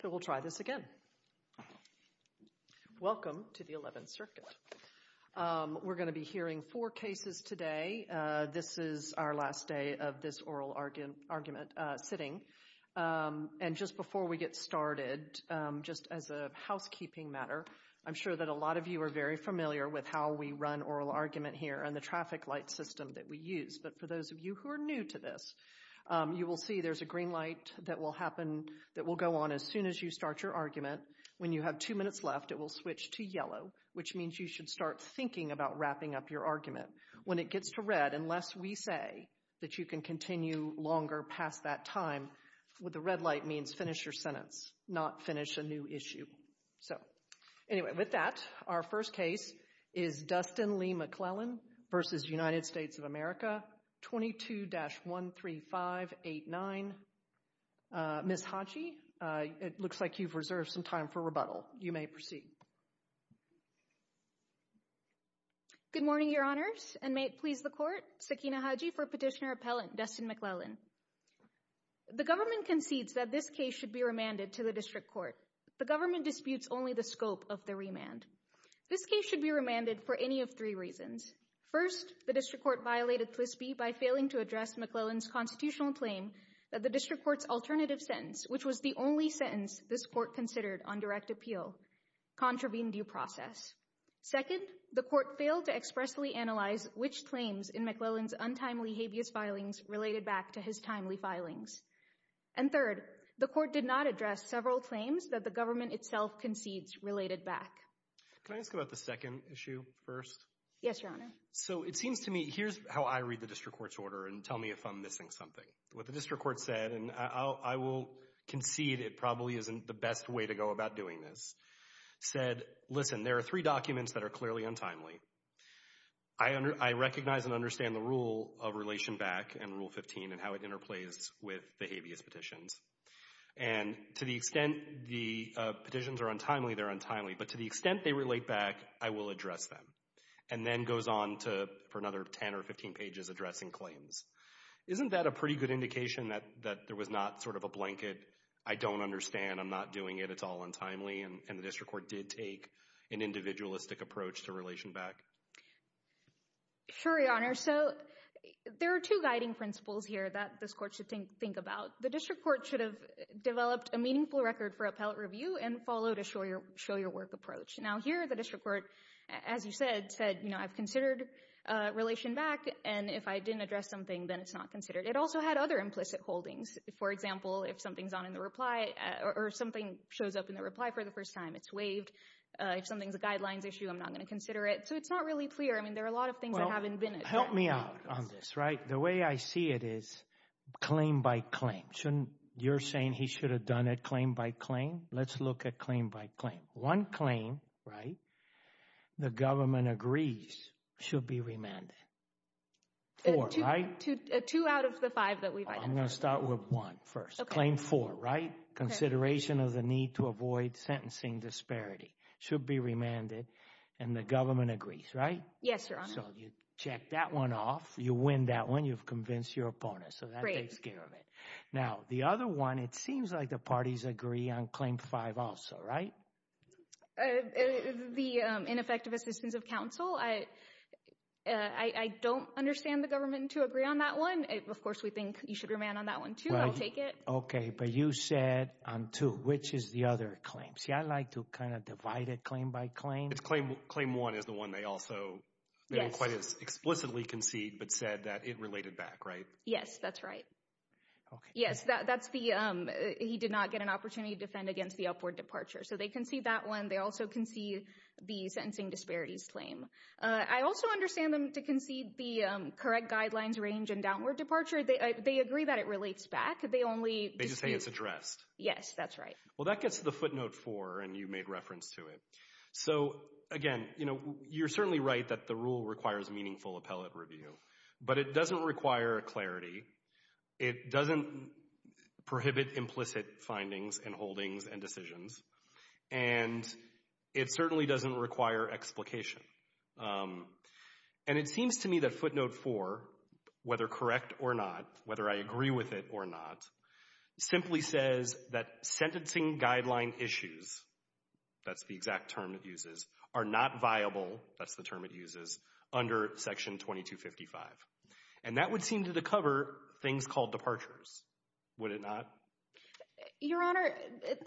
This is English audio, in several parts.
So we'll try this again. Welcome to the 11th Circuit. We're going to be hearing four cases today. This is our last day of this oral argument sitting. And just before we get started, just as a housekeeping matter, I'm sure that a lot of you are very familiar with how we run oral argument here and the traffic light system that we use. But for those of you who are new to this, you will see there's a green light that will happen that will go on as soon as you start your argument. When you have two minutes left, it will switch to yellow, which means you should start thinking about wrapping up your argument. When it gets to red, unless we say that you can continue longer past that time, what the red light means, finish your sentence, not finish a new issue. So anyway, with that, our first case is Dustin Lee McLellan v. United States of America 22-13589. Ms. Hodge, it looks like you've reserved some time for rebuttal. You may proceed. Good morning, Your Honors, and may it please the Court. Sakina Hodge for Petitioner Appellant Dustin McLellan. The government concedes that this case should be remanded to the District Court. The government disputes only the scope of the remand. This case should be remanded for any of three reasons. First, the District Court violated TWISBY by failing to address McLellan's constitutional claim that the District Court's alternative sentence, which was the only sentence this Court considered on direct appeal, contravened due process. Second, the Court failed to expressly analyze which claims in McLellan's untimely habeas filings related back to his timely filings. And third, the Court did not address several claims that the government itself concedes related back. Can I ask about the second issue first? Yes, Your Honor. So it seems to me, here's how I read the District Court's order and tell me if I'm missing something. What the District Court said, and I will concede it probably isn't the best way to go about doing this, said, listen, there are three documents that are clearly untimely. I recognize and understand the rule of relation back and Rule 15 and how it interplays with the habeas petitions. And to the extent the petitions are untimely, they're untimely. But to the extent they relate back, I will address them. And then goes on to, for another 10 or 15 pages, addressing claims. Isn't that a pretty good indication that there was not sort of a blanket, I don't understand, I'm not doing it, it's all untimely, and the District Court did take an individualistic approach to relation back? Sure, Your Honor. So there are two guiding principles here that this court should think about. The District Court should have developed a meaningful record for appellate review and followed a show your work approach. Now here, the District Court, as you said, said, you know, I've considered relation back and if I didn't address something, then it's not considered. It also had other implicit holdings. For example, if something's on in the reply or something shows up in the reply for the first time, it's waived. If something's a guidelines issue, I'm not going to consider it. So it's not really clear. I mean, there are a lot of things that haven't been addressed. Help me out on this, right? The way I see it is claim by claim. You're saying he should have done it claim by claim. Let's look at claim by claim. One claim, right, the government agrees should be remanded. Four, right? Two out of the five that we've identified. I'm going to start with one first. Claim four, right? Consideration of the need to avoid sentencing disparity should be remanded and the government agrees, right? Yes, Your Honor. So you check that one off. You win that one. You've convinced your opponent. So that takes care of it. Now, the other one, it seems like the parties agree on claim five also, right? The ineffective assistance of counsel, I don't understand the government to agree on that one. Of course, we think you should remand on that one, too. I'll take it. Okay. But you said on two. Which is the other claim? See, I like to kind of divide it claim by claim. Claim one is the one they also didn't quite as explicitly concede, but said that it related back, right? Yes, that's right. Okay. Yes, that's the, he did not get an opportunity to defend against the upward departure. So they concede that one. They also concede the sentencing disparities claim. I also understand them to concede the correct guidelines range and downward departure. They agree that it relates back. They only— They just say it's addressed. Yes, that's right. Well, that gets to the footnote four, and you made reference to it. So, again, you know, you're certainly right that the rule requires meaningful appellate review, but it doesn't require clarity. It doesn't prohibit implicit findings and holdings and decisions, and it certainly doesn't require explication. And it seems to me that footnote four, whether correct or not, whether I agree with it or not, simply says that sentencing guideline issues, that's the exact term it uses, are not viable, that's the term it uses, under section 2255. And that would seem to cover things called departures, would it not? Your Honor,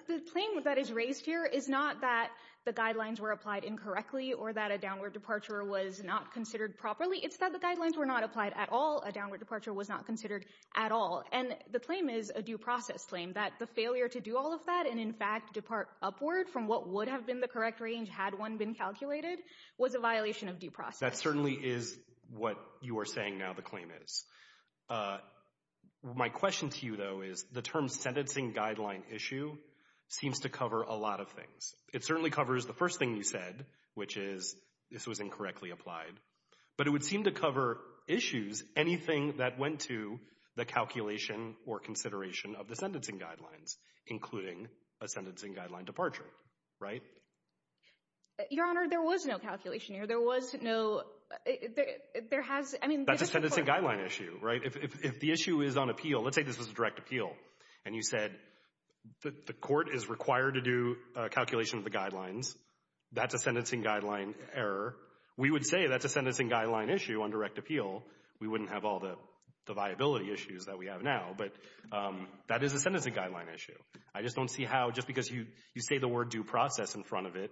the claim that is raised here is not that the guidelines were applied incorrectly or that a downward departure was not considered properly. It's that the guidelines were not applied at all. A downward departure was not considered at all. And the claim is a due process claim, that the failure to do all of that and in fact depart upward from what would have been the correct range had one been calculated was a violation of due process. That certainly is what you are saying now the claim is. My question to you, though, is the term sentencing guideline issue seems to cover a lot of things. It certainly covers the first thing you said, which is this was incorrectly applied. But it would seem to cover issues, anything that went to the calculation or consideration of the sentencing guidelines, including a sentencing guideline departure, right? Your Honor, there was no calculation here. There was no, there has, I mean, that's a sentencing guideline issue, right? If the issue is on appeal, let's say this was a direct appeal, and you said the court is required to do a calculation of the guidelines, that's a sentencing guideline error. We would say that's a sentencing guideline issue on direct appeal. We wouldn't have all the viability issues that we have now, but that is a sentencing guideline issue. I just don't see how just because you say the word due process in front of it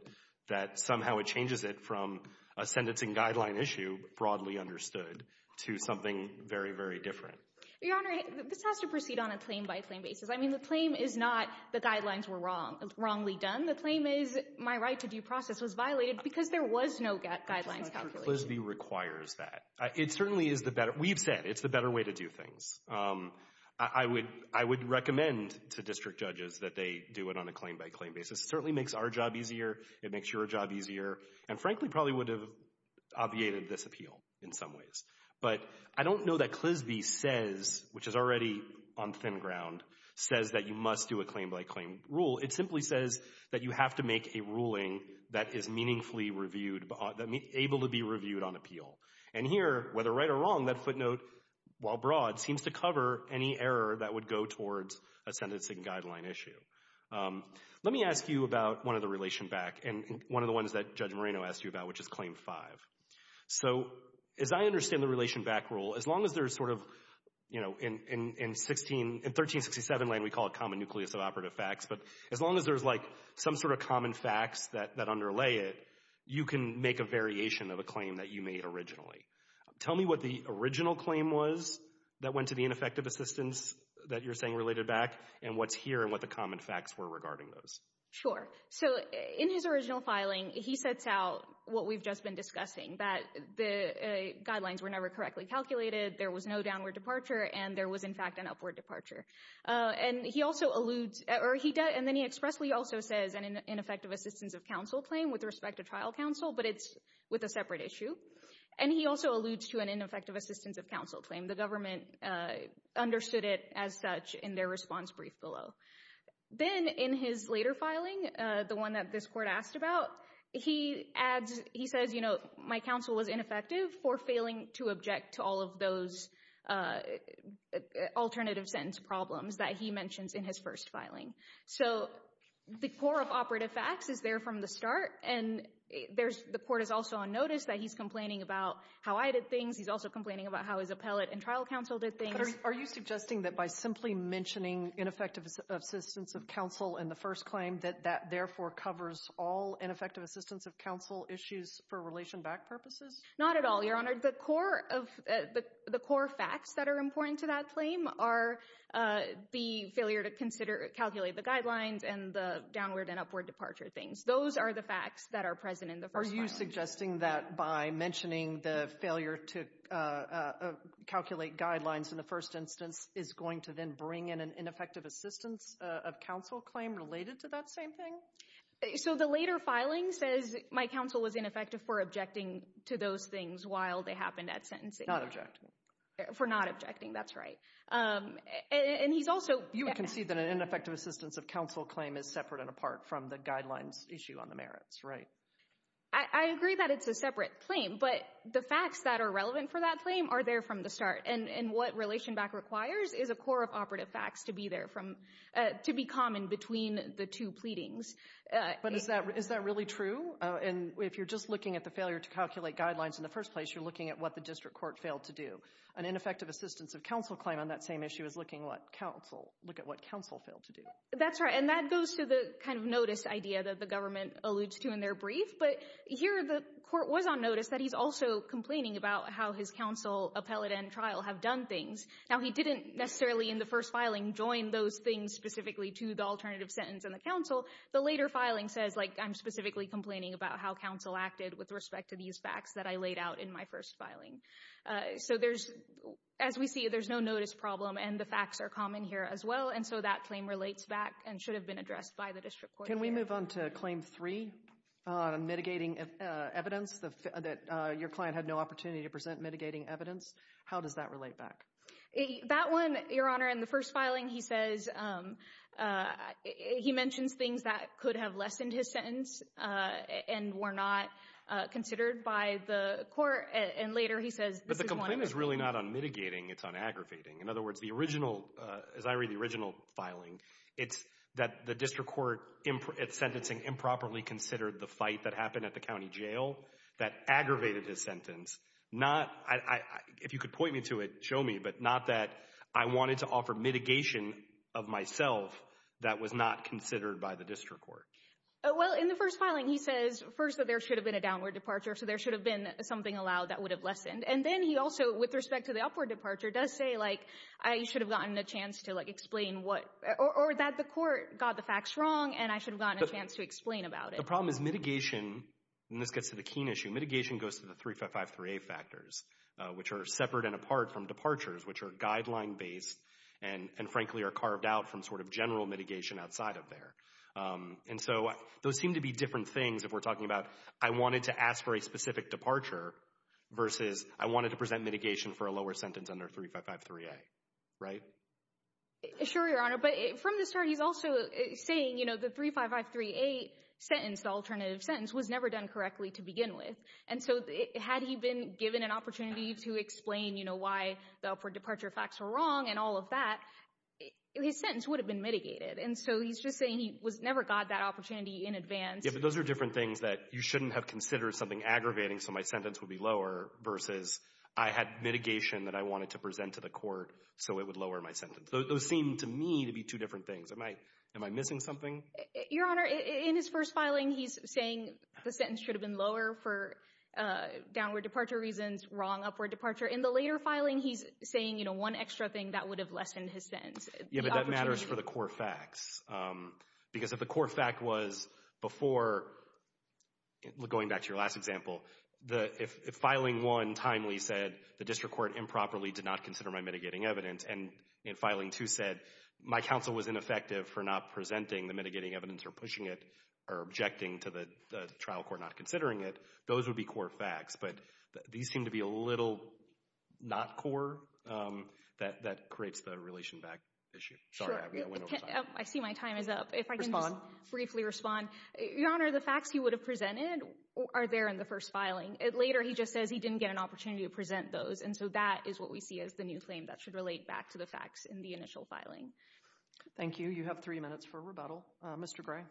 that somehow it changes it from a sentencing guideline issue broadly understood to something very, very different. Your Honor, this has to proceed on a claim by claim basis. I mean, the claim is not the guidelines were wrong, wrongly done. When the claim is my right to due process was violated because there was no guidelines calculation. Clisby requires that. It certainly is the better, we've said it's the better way to do things. I would recommend to district judges that they do it on a claim by claim basis. It certainly makes our job easier, it makes your job easier, and frankly probably would have obviated this appeal in some ways. But I don't know that Clisby says, which is already on thin ground, says that you must do a claim by claim rule. It simply says that you have to make a ruling that is meaningfully reviewed, able to be reviewed on appeal. And here, whether right or wrong, that footnote, while broad, seems to cover any error that would go towards a sentencing guideline issue. Let me ask you about one of the relation back, and one of the ones that Judge Moreno asked you about, which is Claim 5. So as I understand the relation back rule, as long as there's sort of, you know, in 1367 land we call it common nucleus of operative facts, but as long as there's like some sort of common facts that underlay it, you can make a variation of a claim that you made originally. Tell me what the original claim was that went to the ineffective assistance that you're saying related back, and what's here and what the common facts were regarding those. Sure. So in his original filing, he sets out what we've just been discussing, that the guidelines were never correctly calculated, there was no downward departure, and there was in fact an upward departure. And he also alludes, or he does, and then he expressly also says an ineffective assistance of counsel claim with respect to trial counsel, but it's with a separate issue. And he also alludes to an ineffective assistance of counsel claim. The government understood it as such in their response brief below. Then in his later filing, the one that this court asked about, he adds, he says, you know, alternative sentence problems that he mentions in his first filing. So the core of operative facts is there from the start, and there's, the court is also on notice that he's complaining about how I did things, he's also complaining about how his appellate and trial counsel did things. Are you suggesting that by simply mentioning ineffective assistance of counsel in the first claim that that therefore covers all ineffective assistance of counsel issues for relation back purposes? Not at all, Your Honor. The core of, the core facts that are important to that claim are the failure to consider, calculate the guidelines and the downward and upward departure things. Those are the facts that are present in the first filing. Are you suggesting that by mentioning the failure to calculate guidelines in the first instance is going to then bring in an ineffective assistance of counsel claim related to that same thing? So the later filing says my counsel was ineffective for objecting to those things while they happened at sentencing. Not objecting. For not objecting, that's right. And he's also— You would concede that an ineffective assistance of counsel claim is separate and apart from the guidelines issue on the merits, right? I agree that it's a separate claim, but the facts that are relevant for that claim are there from the start, and what relation back requires is a core of operative facts to be there from, to be common between the two pleadings. But is that really true? And if you're just looking at the failure to calculate guidelines in the first place, you're looking at what the district court failed to do. An ineffective assistance of counsel claim on that same issue is looking at what counsel failed to do. That's right, and that goes to the kind of notice idea that the government alludes to in their brief. But here the court was on notice that he's also complaining about how his counsel appellate and trial have done things. Now, he didn't necessarily in the first filing join those things specifically to the alternative sentence in the counsel. The later filing says, like, I'm specifically complaining about how counsel acted with respect to these facts that I laid out in my first filing. So there's—as we see, there's no notice problem, and the facts are common here as well, and so that claim relates back and should have been addressed by the district court. Can we move on to Claim 3 on mitigating evidence, that your client had no opportunity to present mitigating evidence? How does that relate back? That one, Your Honor, in the first filing, he says—he mentions things that could have lessened his sentence and were not considered by the court, and later he says this is one But the complaint is really not on mitigating. It's on aggravating. In other words, the original—as I read the original filing, it's that the district court in its sentencing improperly considered the fight that happened at the county jail that aggravated his sentence, not—if you could point me to it, show me—but not that I wanted to offer mitigation of myself that was not considered by the district court. Well, in the first filing, he says, first, that there should have been a downward departure, so there should have been something allowed that would have lessened, and then he also, with respect to the upward departure, does say, like, I should have gotten a chance to, like, explain what—or that the court got the facts wrong, and I should have gotten a chance to explain about it. The problem is mitigation—and this gets to the keen issue—mitigation goes to the 3553A factors, which are separate and apart from departures, which are guideline-based and frankly are carved out from sort of general mitigation outside of there. And so those seem to be different things if we're talking about I wanted to ask for a specific departure versus I wanted to present mitigation for a lower sentence under 3553A, right? Sure, Your Honor. But from the start, he's also saying, you know, the 3553A sentence, the alternative sentence, was never done correctly to begin with. And so had he been given an opportunity to explain, you know, why the upward departure facts were wrong and all of that, his sentence would have been mitigated. And so he's just saying he never got that opportunity in advance. Yeah, but those are different things that you shouldn't have considered something aggravating so my sentence would be lower versus I had mitigation that I wanted to present to the court so it would lower my sentence. Those seem to me to be two different things. Am I missing something? Your Honor, in his first filing, he's saying the sentence should have been lower for downward departure reasons, wrong upward departure. In the later filing, he's saying, you know, one extra thing that would have lessened his sentence. Yeah, but that matters for the core facts. Because if the core fact was before, going back to your last example, if filing one timely said the district court improperly did not consider my mitigating evidence, and in filing two said my counsel was ineffective for not presenting the mitigating evidence or pushing it or objecting to the trial court not considering it, those would be core facts. But these seem to be a little not core. That creates the relation back issue. Sorry, I went over time. I see my time is up. If I can just briefly respond. Respond. Your Honor, the facts he would have presented are there in the first filing. Later, he just says he didn't get an opportunity to present those, and so that is what we see as the new claim that should relate back to the facts in the initial filing. Thank you. You have three minutes for rebuttal. Mr. Gray.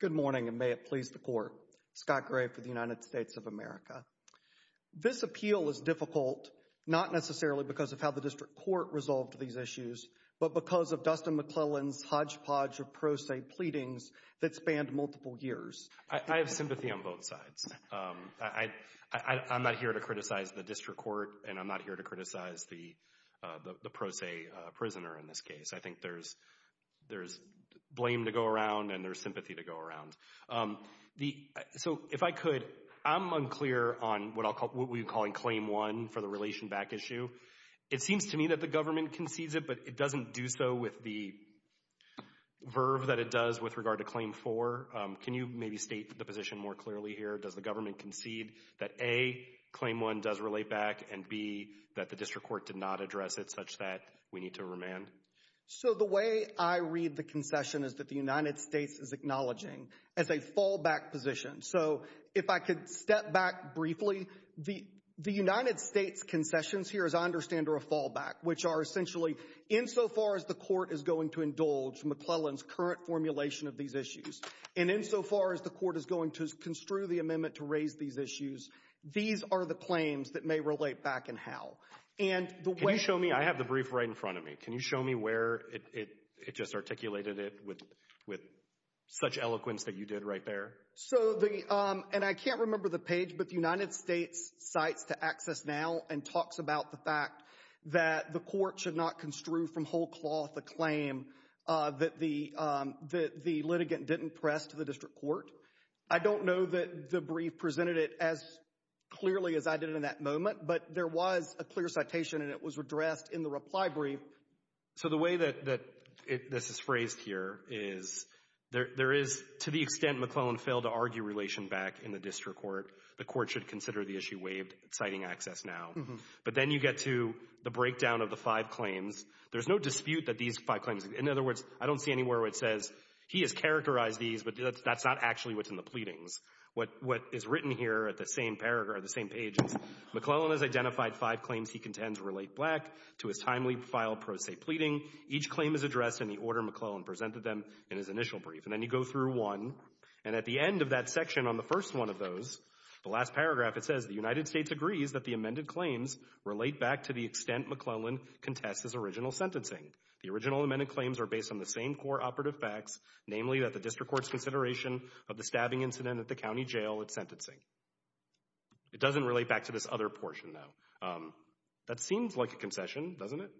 Good morning, and may it please the Court. Scott Gray for the United States of America. This appeal is difficult, not necessarily because of how the district court resolved these issues, but because of Dustin McClellan's hodgepodge of pro se pleadings that spanned multiple years. I have sympathy on both sides. I'm not here to criticize the district court, and I'm not here to criticize the pro se prisoner in this case. I think there's blame to go around, and there's sympathy to go around. So, if I could, I'm unclear on what we're calling Claim 1 for the relation back issue. It seems to me that the government concedes it, but it doesn't do so with the verb that it does with regard to Claim 4. Can you maybe state the position more clearly here? Does the government concede that A, Claim 1 does relate back, and B, that the district court did not address it such that we need to remand? So the way I read the concession is that the United States is acknowledging as a fallback position. So, if I could step back briefly, the United States' concessions here, as I understand, are a fallback, which are essentially, insofar as the court is going to indulge McClellan's current formulation of these issues, and insofar as the court is going to construe the amendment to raise these issues, these are the claims that may relate back and how. And the way- Can you show me? I mean, I have the brief right in front of me. Can you show me where it just articulated it with such eloquence that you did right there? So the- and I can't remember the page, but the United States cites to Access Now and talks about the fact that the court should not construe from whole cloth a claim that the litigant didn't press to the district court. I don't know that the brief presented it as clearly as I did in that moment, but there was a clear citation, and it was addressed in the reply brief. So the way that this is phrased here is there is, to the extent McClellan failed to argue relation back in the district court, the court should consider the issue waived citing Access Now. But then you get to the breakdown of the five claims. There's no dispute that these five claims- in other words, I don't see anywhere where it says he has characterized these, but that's not actually what's in the pleadings. What is written here at the same page is, McClellan has identified five claims he contends relate black to his timely file pro se pleading. Each claim is addressed in the order McClellan presented them in his initial brief, and then you go through one, and at the end of that section on the first one of those, the last paragraph it says, the United States agrees that the amended claims relate back to the extent McClellan contests his original sentencing. The original amended claims are based on the same core operative facts, namely that the county jail and sentencing. It doesn't relate back to this other portion, though. That seems like a concession, doesn't it?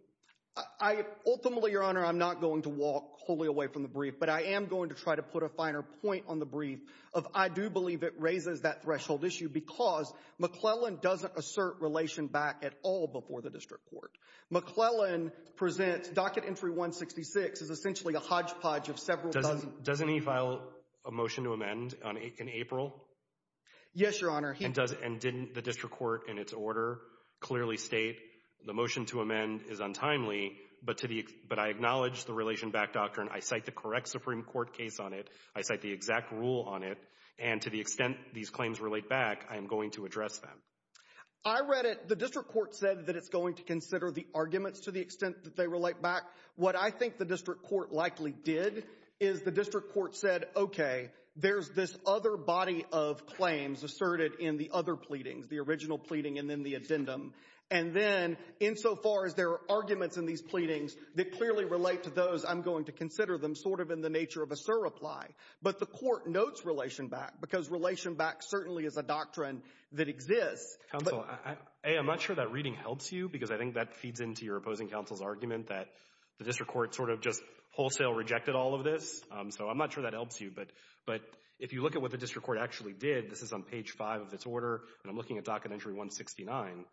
Ultimately, Your Honor, I'm not going to walk wholly away from the brief, but I am going to try to put a finer point on the brief of I do believe it raises that threshold issue because McClellan doesn't assert relation back at all before the district court. McClellan presents Docket Entry 166 as essentially a hodgepodge of several dozen- Doesn't he file a motion to amend in April? Yes, Your Honor. And didn't the district court in its order clearly state the motion to amend is untimely, but I acknowledge the relation back doctrine. I cite the correct Supreme Court case on it. I cite the exact rule on it, and to the extent these claims relate back, I am going to address them. I read it. The district court said that it's going to consider the arguments to the extent that they relate back. What I think the district court likely did is the district court said, okay, there's this other body of claims asserted in the other pleadings, the original pleading and then the addendum, and then insofar as there are arguments in these pleadings that clearly relate to those, I'm going to consider them sort of in the nature of a surreply. But the court notes relation back because relation back certainly is a doctrine that exists. Counsel, A, I'm not sure that reading helps you because I think that feeds into your opposing counsel's argument that the district court sort of just wholesale rejected all of this, so I'm not sure that helps you. But if you look at what the district court actually did, this is on page five of its order, and I'm looking at docket entry 169.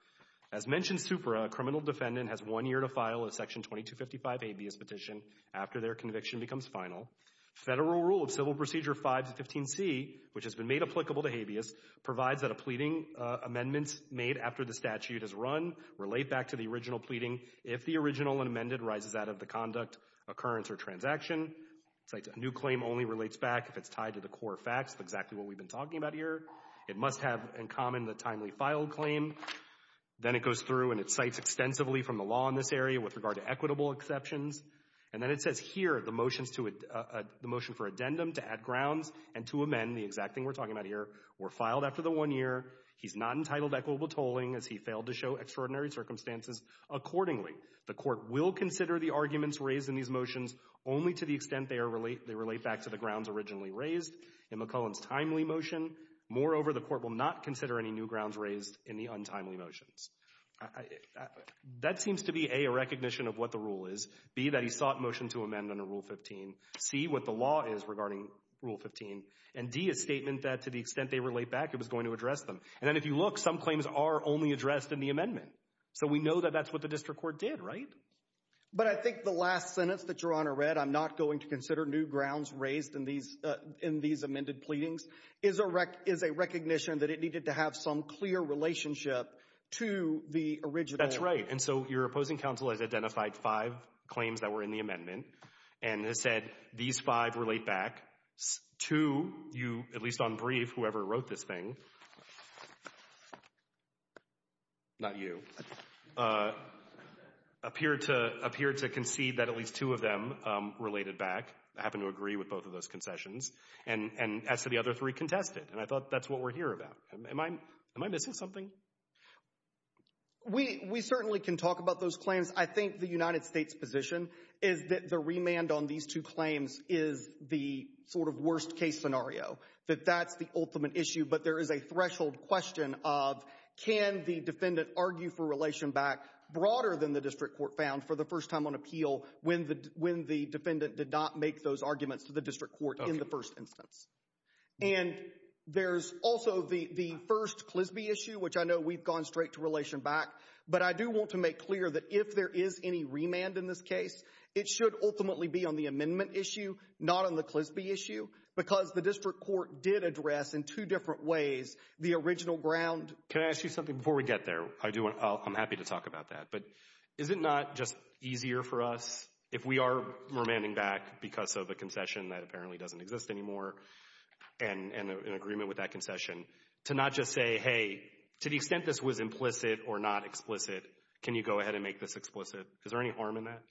As mentioned, Supra, a criminal defendant, has one year to file a section 2255 habeas petition after their conviction becomes final. Federal rule of civil procedure 515C, which has been made applicable to habeas, provides that a pleading amendment made after the statute is run relate back to the original pleading if the original and amended rises out of the conduct, occurrence, or transaction. New claim only relates back if it's tied to the core facts, exactly what we've been talking about here. It must have in common the timely filed claim. Then it goes through and it cites extensively from the law in this area with regard to equitable exceptions. And then it says here the motion for addendum to add grounds and to amend, the exact thing we're talking about here, were filed after the one year. He's not entitled to equitable tolling as he failed to show extraordinary circumstances accordingly. The court will consider the arguments raised in these motions only to the extent they relate back to the grounds originally raised. In McClellan's timely motion, moreover, the court will not consider any new grounds raised in the untimely motions. That seems to be A, a recognition of what the rule is, B, that he sought motion to amend under Rule 15, C, what the law is regarding Rule 15, and D, a statement that to the extent they relate back, it was going to address them. And then if you look, some claims are only addressed in the amendment. So we know that that's what the district court did, right? But I think the last sentence that Your Honor read, I'm not going to consider new grounds raised in these amended pleadings, is a recognition that it needed to have some clear relationship to the original. That's right. And so your opposing counsel has identified five claims that were in the amendment and has said, these five relate back to you, at least on brief, whoever wrote this thing, not you, appeared to concede that at least two of them related back, happen to agree with both of those concessions, and as to the other three, contested. And I thought that's what we're here about. Am I missing something? We certainly can talk about those claims. I think the United States' position is that the remand on these two claims is the sort of worst-case scenario, that that's the ultimate issue. But there is a threshold question of can the defendant argue for relation back broader than the district court found for the first time on appeal when the defendant did not make those arguments to the district court in the first instance. And there's also the first CLSBI issue, which I know we've gone straight to relation back, but I do want to make clear that if there is any remand in this case, it should ultimately be on the amendment issue, not on the CLSBI issue, because the district court did address in two different ways the original ground. Can I ask you something before we get there? I do want, I'm happy to talk about that, but is it not just easier for us if we are remanding back because of a concession that apparently doesn't exist anymore and an agreement with to not just say, hey, to the extent this was implicit or not explicit, can you go ahead and make this explicit? Is there any harm in that?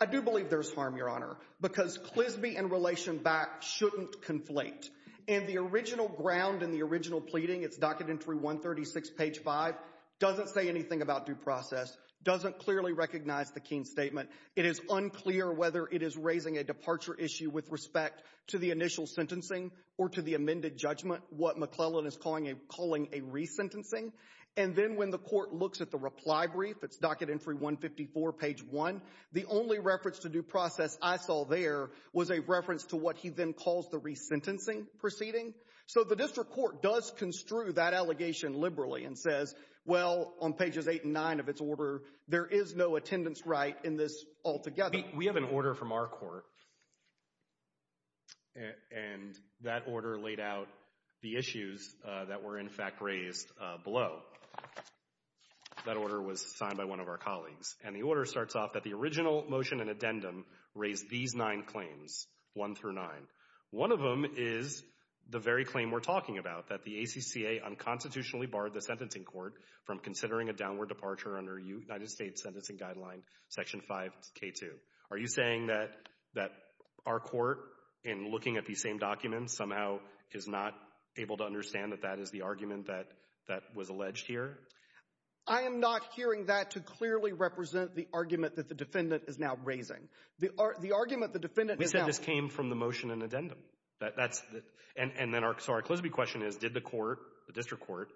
I do believe there's harm, Your Honor, because CLSBI and relation back shouldn't conflate. And the original ground in the original pleading, it's docket entry 136, page 5, doesn't say anything about due process, doesn't clearly recognize the Keene statement. It is unclear whether it is raising a departure issue with respect to the initial sentencing or to the amended judgment, what McClellan is calling a resentencing. And then when the court looks at the reply brief, it's docket entry 154, page 1, the only reference to due process I saw there was a reference to what he then calls the resentencing proceeding. So the district court does construe that allegation liberally and says, well, on pages 8 and 9 of its order, there is no attendance right in this altogether. We have an order from our court, and that order laid out the issues that were in fact raised below. That order was signed by one of our colleagues, and the order starts off that the original motion and addendum raised these nine claims, 1 through 9. One of them is the very claim we're talking about, that the ACCA unconstitutionally barred the sentencing court from considering a downward departure under United States Sentencing Guideline Section 5K2. Are you saying that our court, in looking at these same documents, somehow is not able to understand that that is the argument that was alleged here? I am not hearing that to clearly represent the argument that the defendant is now raising. The argument the defendant is now raising. We said this came from the motion and addendum. And then our Eclizabe question is, did the court, the district court,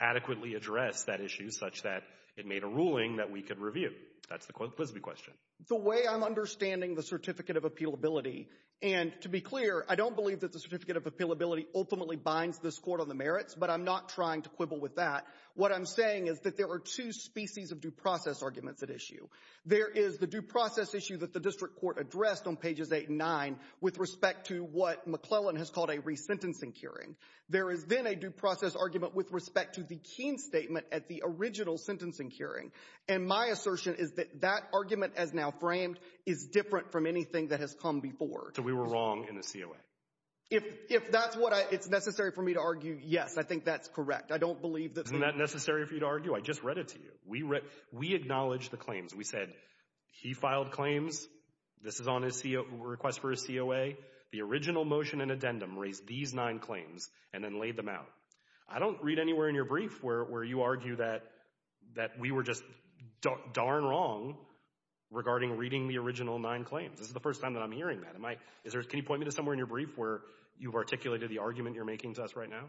adequately address that issue such that it made a ruling that we could review? That's the Eclizabe question. The way I'm understanding the Certificate of Appealability, and to be clear, I don't believe that the Certificate of Appealability ultimately binds this court on the merits, but I'm not trying to quibble with that. What I'm saying is that there are two species of due process arguments at issue. There is the due process issue that the district court addressed on pages 8 and 9 with respect to what McClellan has called a resentencing hearing. There is then a due process argument with respect to the Keene statement at the original sentencing hearing. And my assertion is that that argument as now framed is different from anything that has come before. So we were wrong in the COA? If that's what it's necessary for me to argue, yes. I think that's correct. I don't believe that... Isn't that necessary for you to argue? I just read it to you. We acknowledged the claims. We said he filed claims. This is on his request for a COA. The original motion and addendum raised these nine claims and then laid them out. I don't read anywhere in your brief where you argue that we were just darn wrong regarding reading the original nine claims. This is the first time that I'm hearing that. Can you point me to somewhere in your brief where you've articulated the argument you're making to us right now?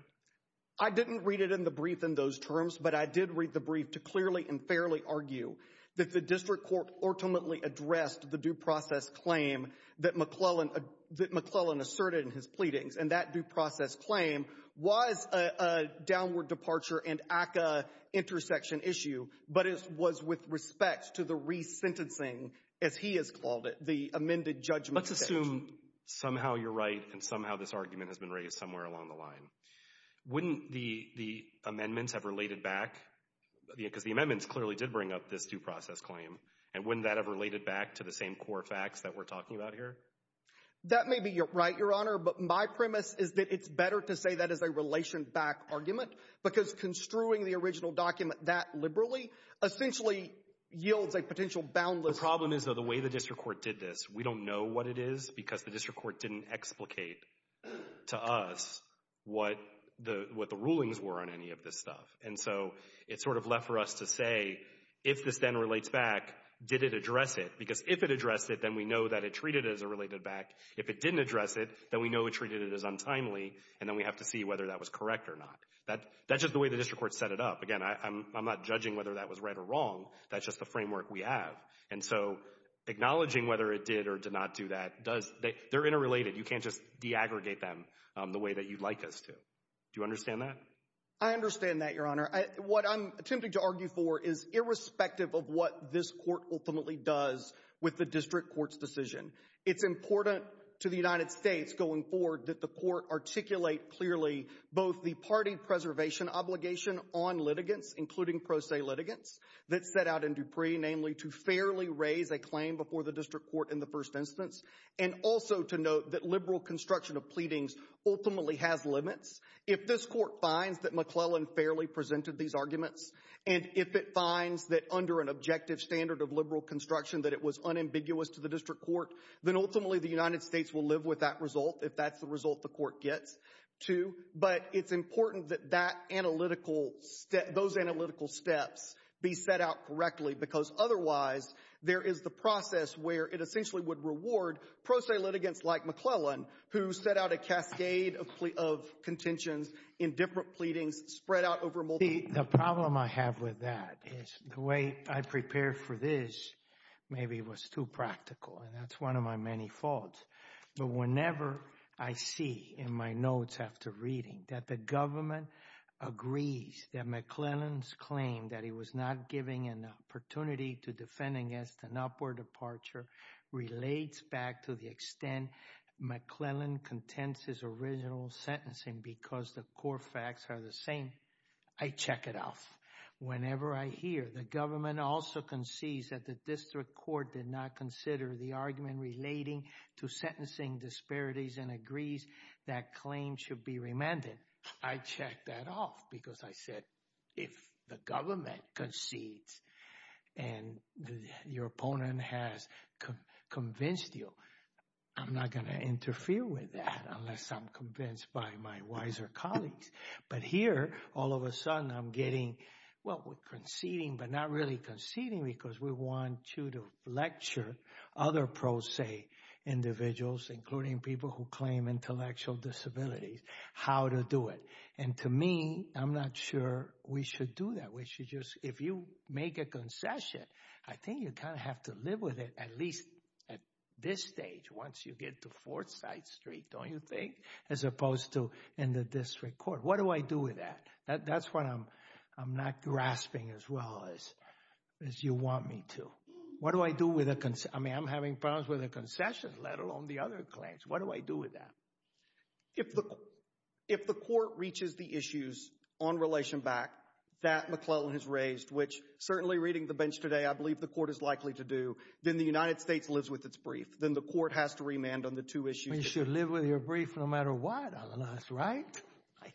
I didn't read it in the brief in those terms, but I did read the brief to clearly and fairly argue that the district court ultimately addressed the due process claim that McClellan asserted in his pleadings. And that due process claim was a downward departure and ACCA intersection issue, but it was with respect to the resentencing, as he has called it, the amended judgment. Let's assume somehow you're right and somehow this argument has been raised somewhere along the line. Wouldn't the amendments have related back, because the amendments clearly did bring up this due process claim, and wouldn't that have related back to the same core facts that we're talking about here? That may be right, Your Honor, but my premise is that it's better to say that as a relation back argument, because construing the original document that liberally essentially yields a potential boundless— The problem is, though, the way the district court did this. We don't know what it is, because the district court didn't explicate to us what the rulings were on any of this stuff. And so it's sort of left for us to say, if this then relates back, did it address it? Because if it addressed it, then we know that it treated it as a related back. If it didn't address it, then we know it treated it as untimely, and then we have to see whether that was correct or not. That's just the way the district court set it up. Again, I'm not judging whether that was right or wrong. That's just the framework we have. And so acknowledging whether it did or did not do that does—they're interrelated. You can't just de-aggregate them the way that you'd like us to. Do you understand that? I understand that, Your Honor. What I'm attempting to argue for is irrespective of what this court ultimately does with the district court's decision. It's important to the United States going forward that the court articulate clearly both the party preservation obligation on litigants, including pro se litigants, that set out in Dupree, namely to fairly raise a claim before the district court in the first instance, and also to note that liberal construction of pleadings ultimately has limits. If this court finds that McClellan fairly presented these arguments, and if it finds that under an objective standard of liberal construction that it was unambiguous to the district court, then ultimately the United States will live with that result if that's the result the court gets to. But it's important that that analytical—those analytical steps be set out correctly, because otherwise there is the process where it essentially would reward pro se litigants like McClellan, who set out a cascade of contentions in different pleadings spread out over multi— The problem I have with that is the way I prepared for this maybe was too practical, and that's one of my many faults. But whenever I see in my notes after reading that the government agrees that McClellan's claim that he was not giving an opportunity to defend against an upward departure relates back to the extent McClellan contends his original sentencing because the core facts are the same, I check it off. Whenever I hear the government also concedes that the district court did not consider the argument relating to sentencing disparities and agrees that claims should be remanded, I check that off because I said, if the government concedes and your opponent has convinced you I'm not going to interfere with that unless I'm convinced by my wiser colleagues. But here, all of a sudden I'm getting, well, we're conceding but not really conceding because we want you to lecture other pro se individuals, including people who claim intellectual disabilities, how to do it. And to me, I'm not sure we should do that. We should just—if you make a concession, I think you kind of have to live with it at least at this stage once you get to Fourth Side Street, don't you think, as opposed to in the district court. What do I do with that? That's what I'm not grasping as well as you want me to. What do I do with a—I mean, I'm having problems with a concession, let alone the other claims. What do I do with that? If the court reaches the issues on relation back that McClellan has raised, which certainly reading the bench today, I believe the court is likely to do, then the United States lives with its brief. Then the court has to remand on the two issues. You should live with your brief no matter what, Al-Anas, right?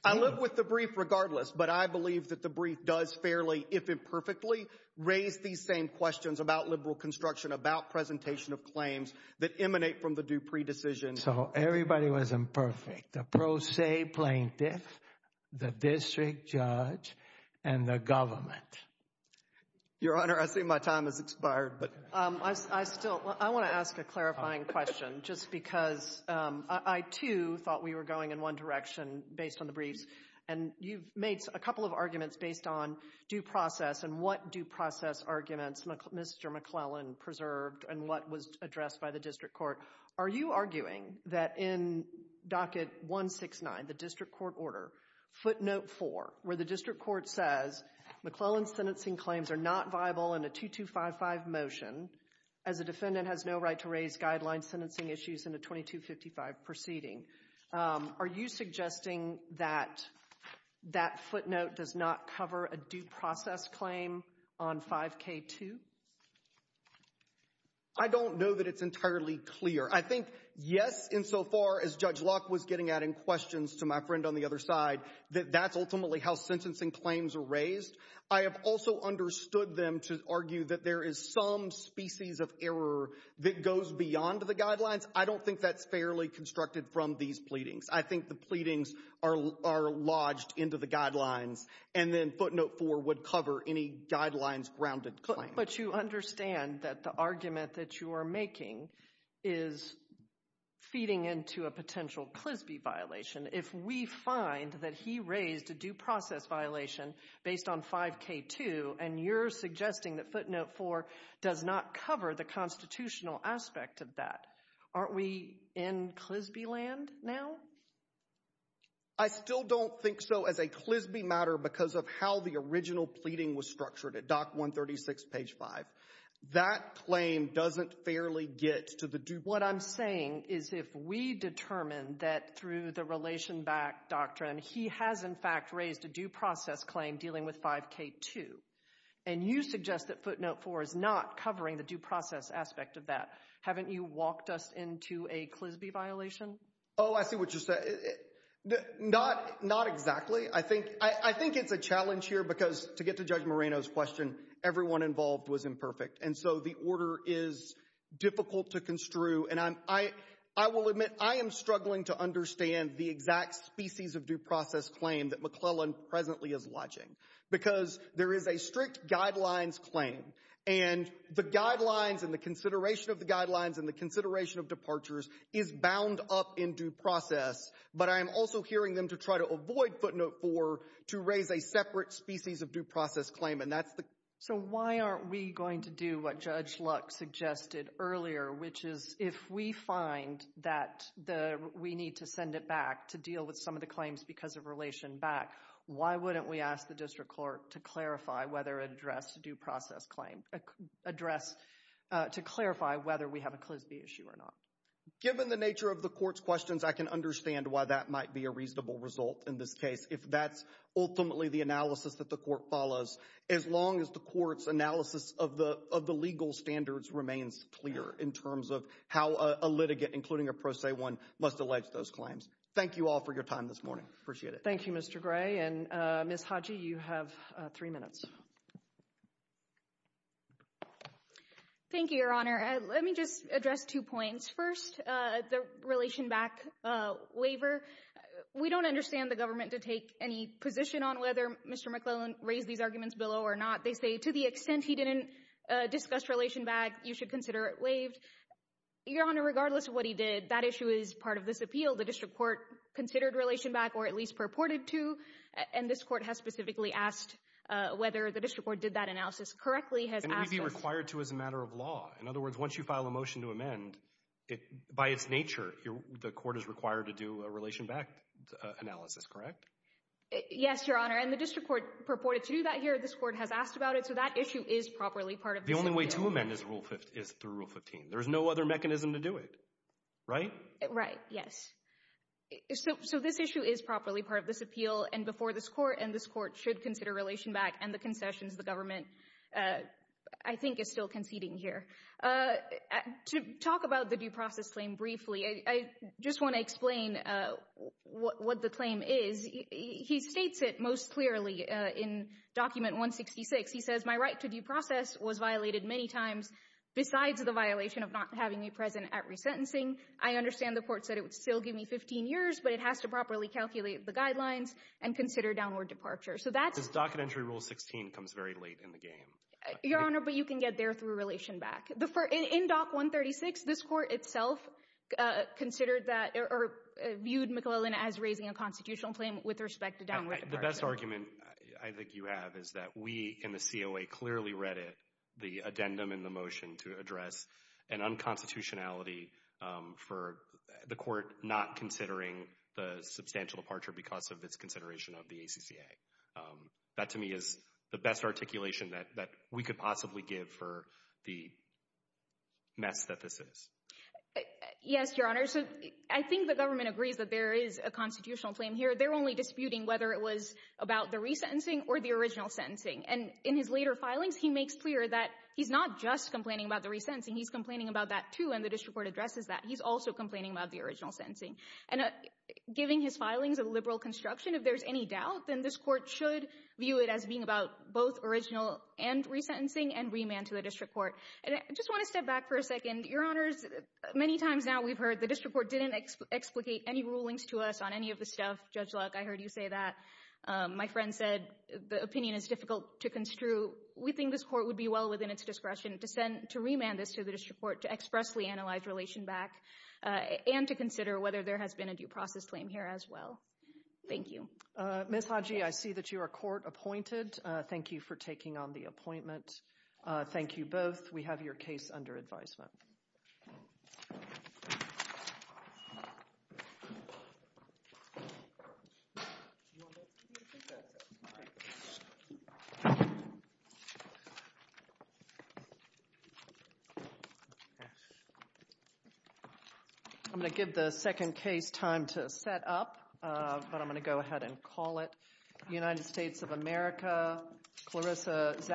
I live with the brief regardless. But I believe that the brief does fairly, if imperfectly, raise these same questions about liberal construction, about presentation of claims that emanate from the Dupree decision. So everybody was imperfect, the pro se plaintiff, the district judge, and the government. Your Honor, I see my time has expired, but— I still—I want to ask a clarifying question, just because I, too, thought we were going in one direction based on the briefs, and you've made a couple of arguments based on due process and what due process arguments Mr. McClellan preserved and what was addressed by the district court. Are you arguing that in docket 169, the district court order, footnote 4, where the district court says, McClellan's sentencing claims are not viable in a 2255 motion, as a defendant has no right to raise guideline sentencing issues in a 2255 proceeding, are you suggesting that that footnote does not cover a due process claim on 5K2? I don't know that it's entirely clear. I think, yes, insofar as Judge Locke was getting at in questions to my friend on the other side, that that's ultimately how sentencing claims are raised, I have also understood them to argue that there is some species of error that goes beyond the guidelines. I don't think that's fairly constructed from these pleadings. I think the pleadings are lodged into the guidelines, and then footnote 4 would cover any guidelines grounded claim. But you understand that the argument that you are making is feeding into a potential CLSBI violation. If we find that he raised a due process violation based on 5K2, and you're suggesting that footnote 4 does not cover the constitutional aspect of that, aren't we in CLSBI land now? I still don't think so as a CLSBI matter because of how the original pleading was structured at Dock 136, page 5. That claim doesn't fairly get to the due process. What I'm saying is if we determine that through the relation back doctrine, he has in fact raised a due process claim dealing with 5K2, and you suggest that footnote 4 is not covering the due process aspect of that, haven't you walked us into a CLSBI violation? Oh, I see what you're saying. Not exactly. I think it's a challenge here because to get to Judge Moreno's question, everyone involved was imperfect. So the order is difficult to construe, and I will admit I am struggling to understand the exact species of due process claim that McClellan presently is lodging because there is a strict guidelines claim, and the guidelines and the consideration of the guidelines and the consideration of departures is bound up in due process, but I am also hearing them to try to avoid footnote 4 to raise a separate species of due process claim. So why aren't we going to do what Judge Luck suggested earlier, which is if we find that we need to send it back to deal with some of the claims because of relation back, why wouldn't we ask the district court to clarify whether to address a due process claim, to clarify whether we have a CLSBI issue or not? Given the nature of the court's questions, I can understand why that might be a reasonable result in this case if that's ultimately the analysis that the court follows, as long as the court's analysis of the legal standards remains clear in terms of how a litigant, including a pro se one, must allege those claims. Thank you all for your time this morning. Appreciate it. Thank you, Mr. Gray. And Ms. Hodge, you have three minutes. Thank you, Your Honor. Let me just address two points. First, the relation back waiver. We don't understand the government to take any position on whether Mr. McClellan raised these arguments below or not. They say to the extent he didn't discuss relation back, you should consider it waived. Your Honor, regardless of what he did, that issue is part of this appeal. The district court considered relation back or at least purported to, and this court has specifically asked whether the district court did that analysis correctly. And it would be required to as a matter of law. In other words, once you file a motion to amend, by its nature, the court is required to do a relation back analysis, correct? Yes, Your Honor. And the district court purported to do that here. This court has asked about it. So that issue is properly part of this appeal. The only way to amend is through Rule 15. There's no other mechanism to do it, right? Right. Yes. So this issue is properly part of this appeal. And before this court, and this court should consider relation back, and the concessions the government, I think, is still conceding here. To talk about the due process claim briefly, I just want to explain what the claim is. He states it most clearly in Document 166. He says, my right to due process was violated many times besides the violation of not having me present at resentencing. I understand the court said it would still give me 15 years, but it has to properly calculate the guidelines and consider downward departure. So that's— This docket entry Rule 16 comes very late in the game. Your Honor, but you can get there through relation back. In Doc 136, this court itself considered that—or viewed McAleenan as raising a constitutional claim with respect to downward departure. The best argument I think you have is that we in the COA clearly read it, the addendum in the motion to address an unconstitutionality for the court not considering the substantial departure because of its consideration of the ACCA. That to me is the best articulation that we could possibly give for the mess that this is. Yes, Your Honor. So I think the government agrees that there is a constitutional claim here. They're only disputing whether it was about the resentencing or the original sentencing. And in his later filings, he makes clear that he's not just complaining about the resentencing. He's complaining about that, too, and the district court addresses that. He's also complaining about the original sentencing. And giving his filings a liberal construction, if there's any doubt, then this court should view it as being about both original and resentencing and remand to the district court. And I just want to step back for a second. Your Honors, many times now we've heard the district court didn't explicate any rulings to us on any of the stuff. Judge Luck, I heard you say that. My friend said the opinion is difficult to construe. We think this court would be well within its discretion to remand this to the district and to consider whether there has been a due process claim here as well. Thank you. Ms. Hodge, I see that you are court appointed. Thank you for taking on the appointment. Thank you both. We have your case under advisement. I'm going to give the second case time to set up, but I'm going to go ahead and call it. United States of America, Clarissa Zapp.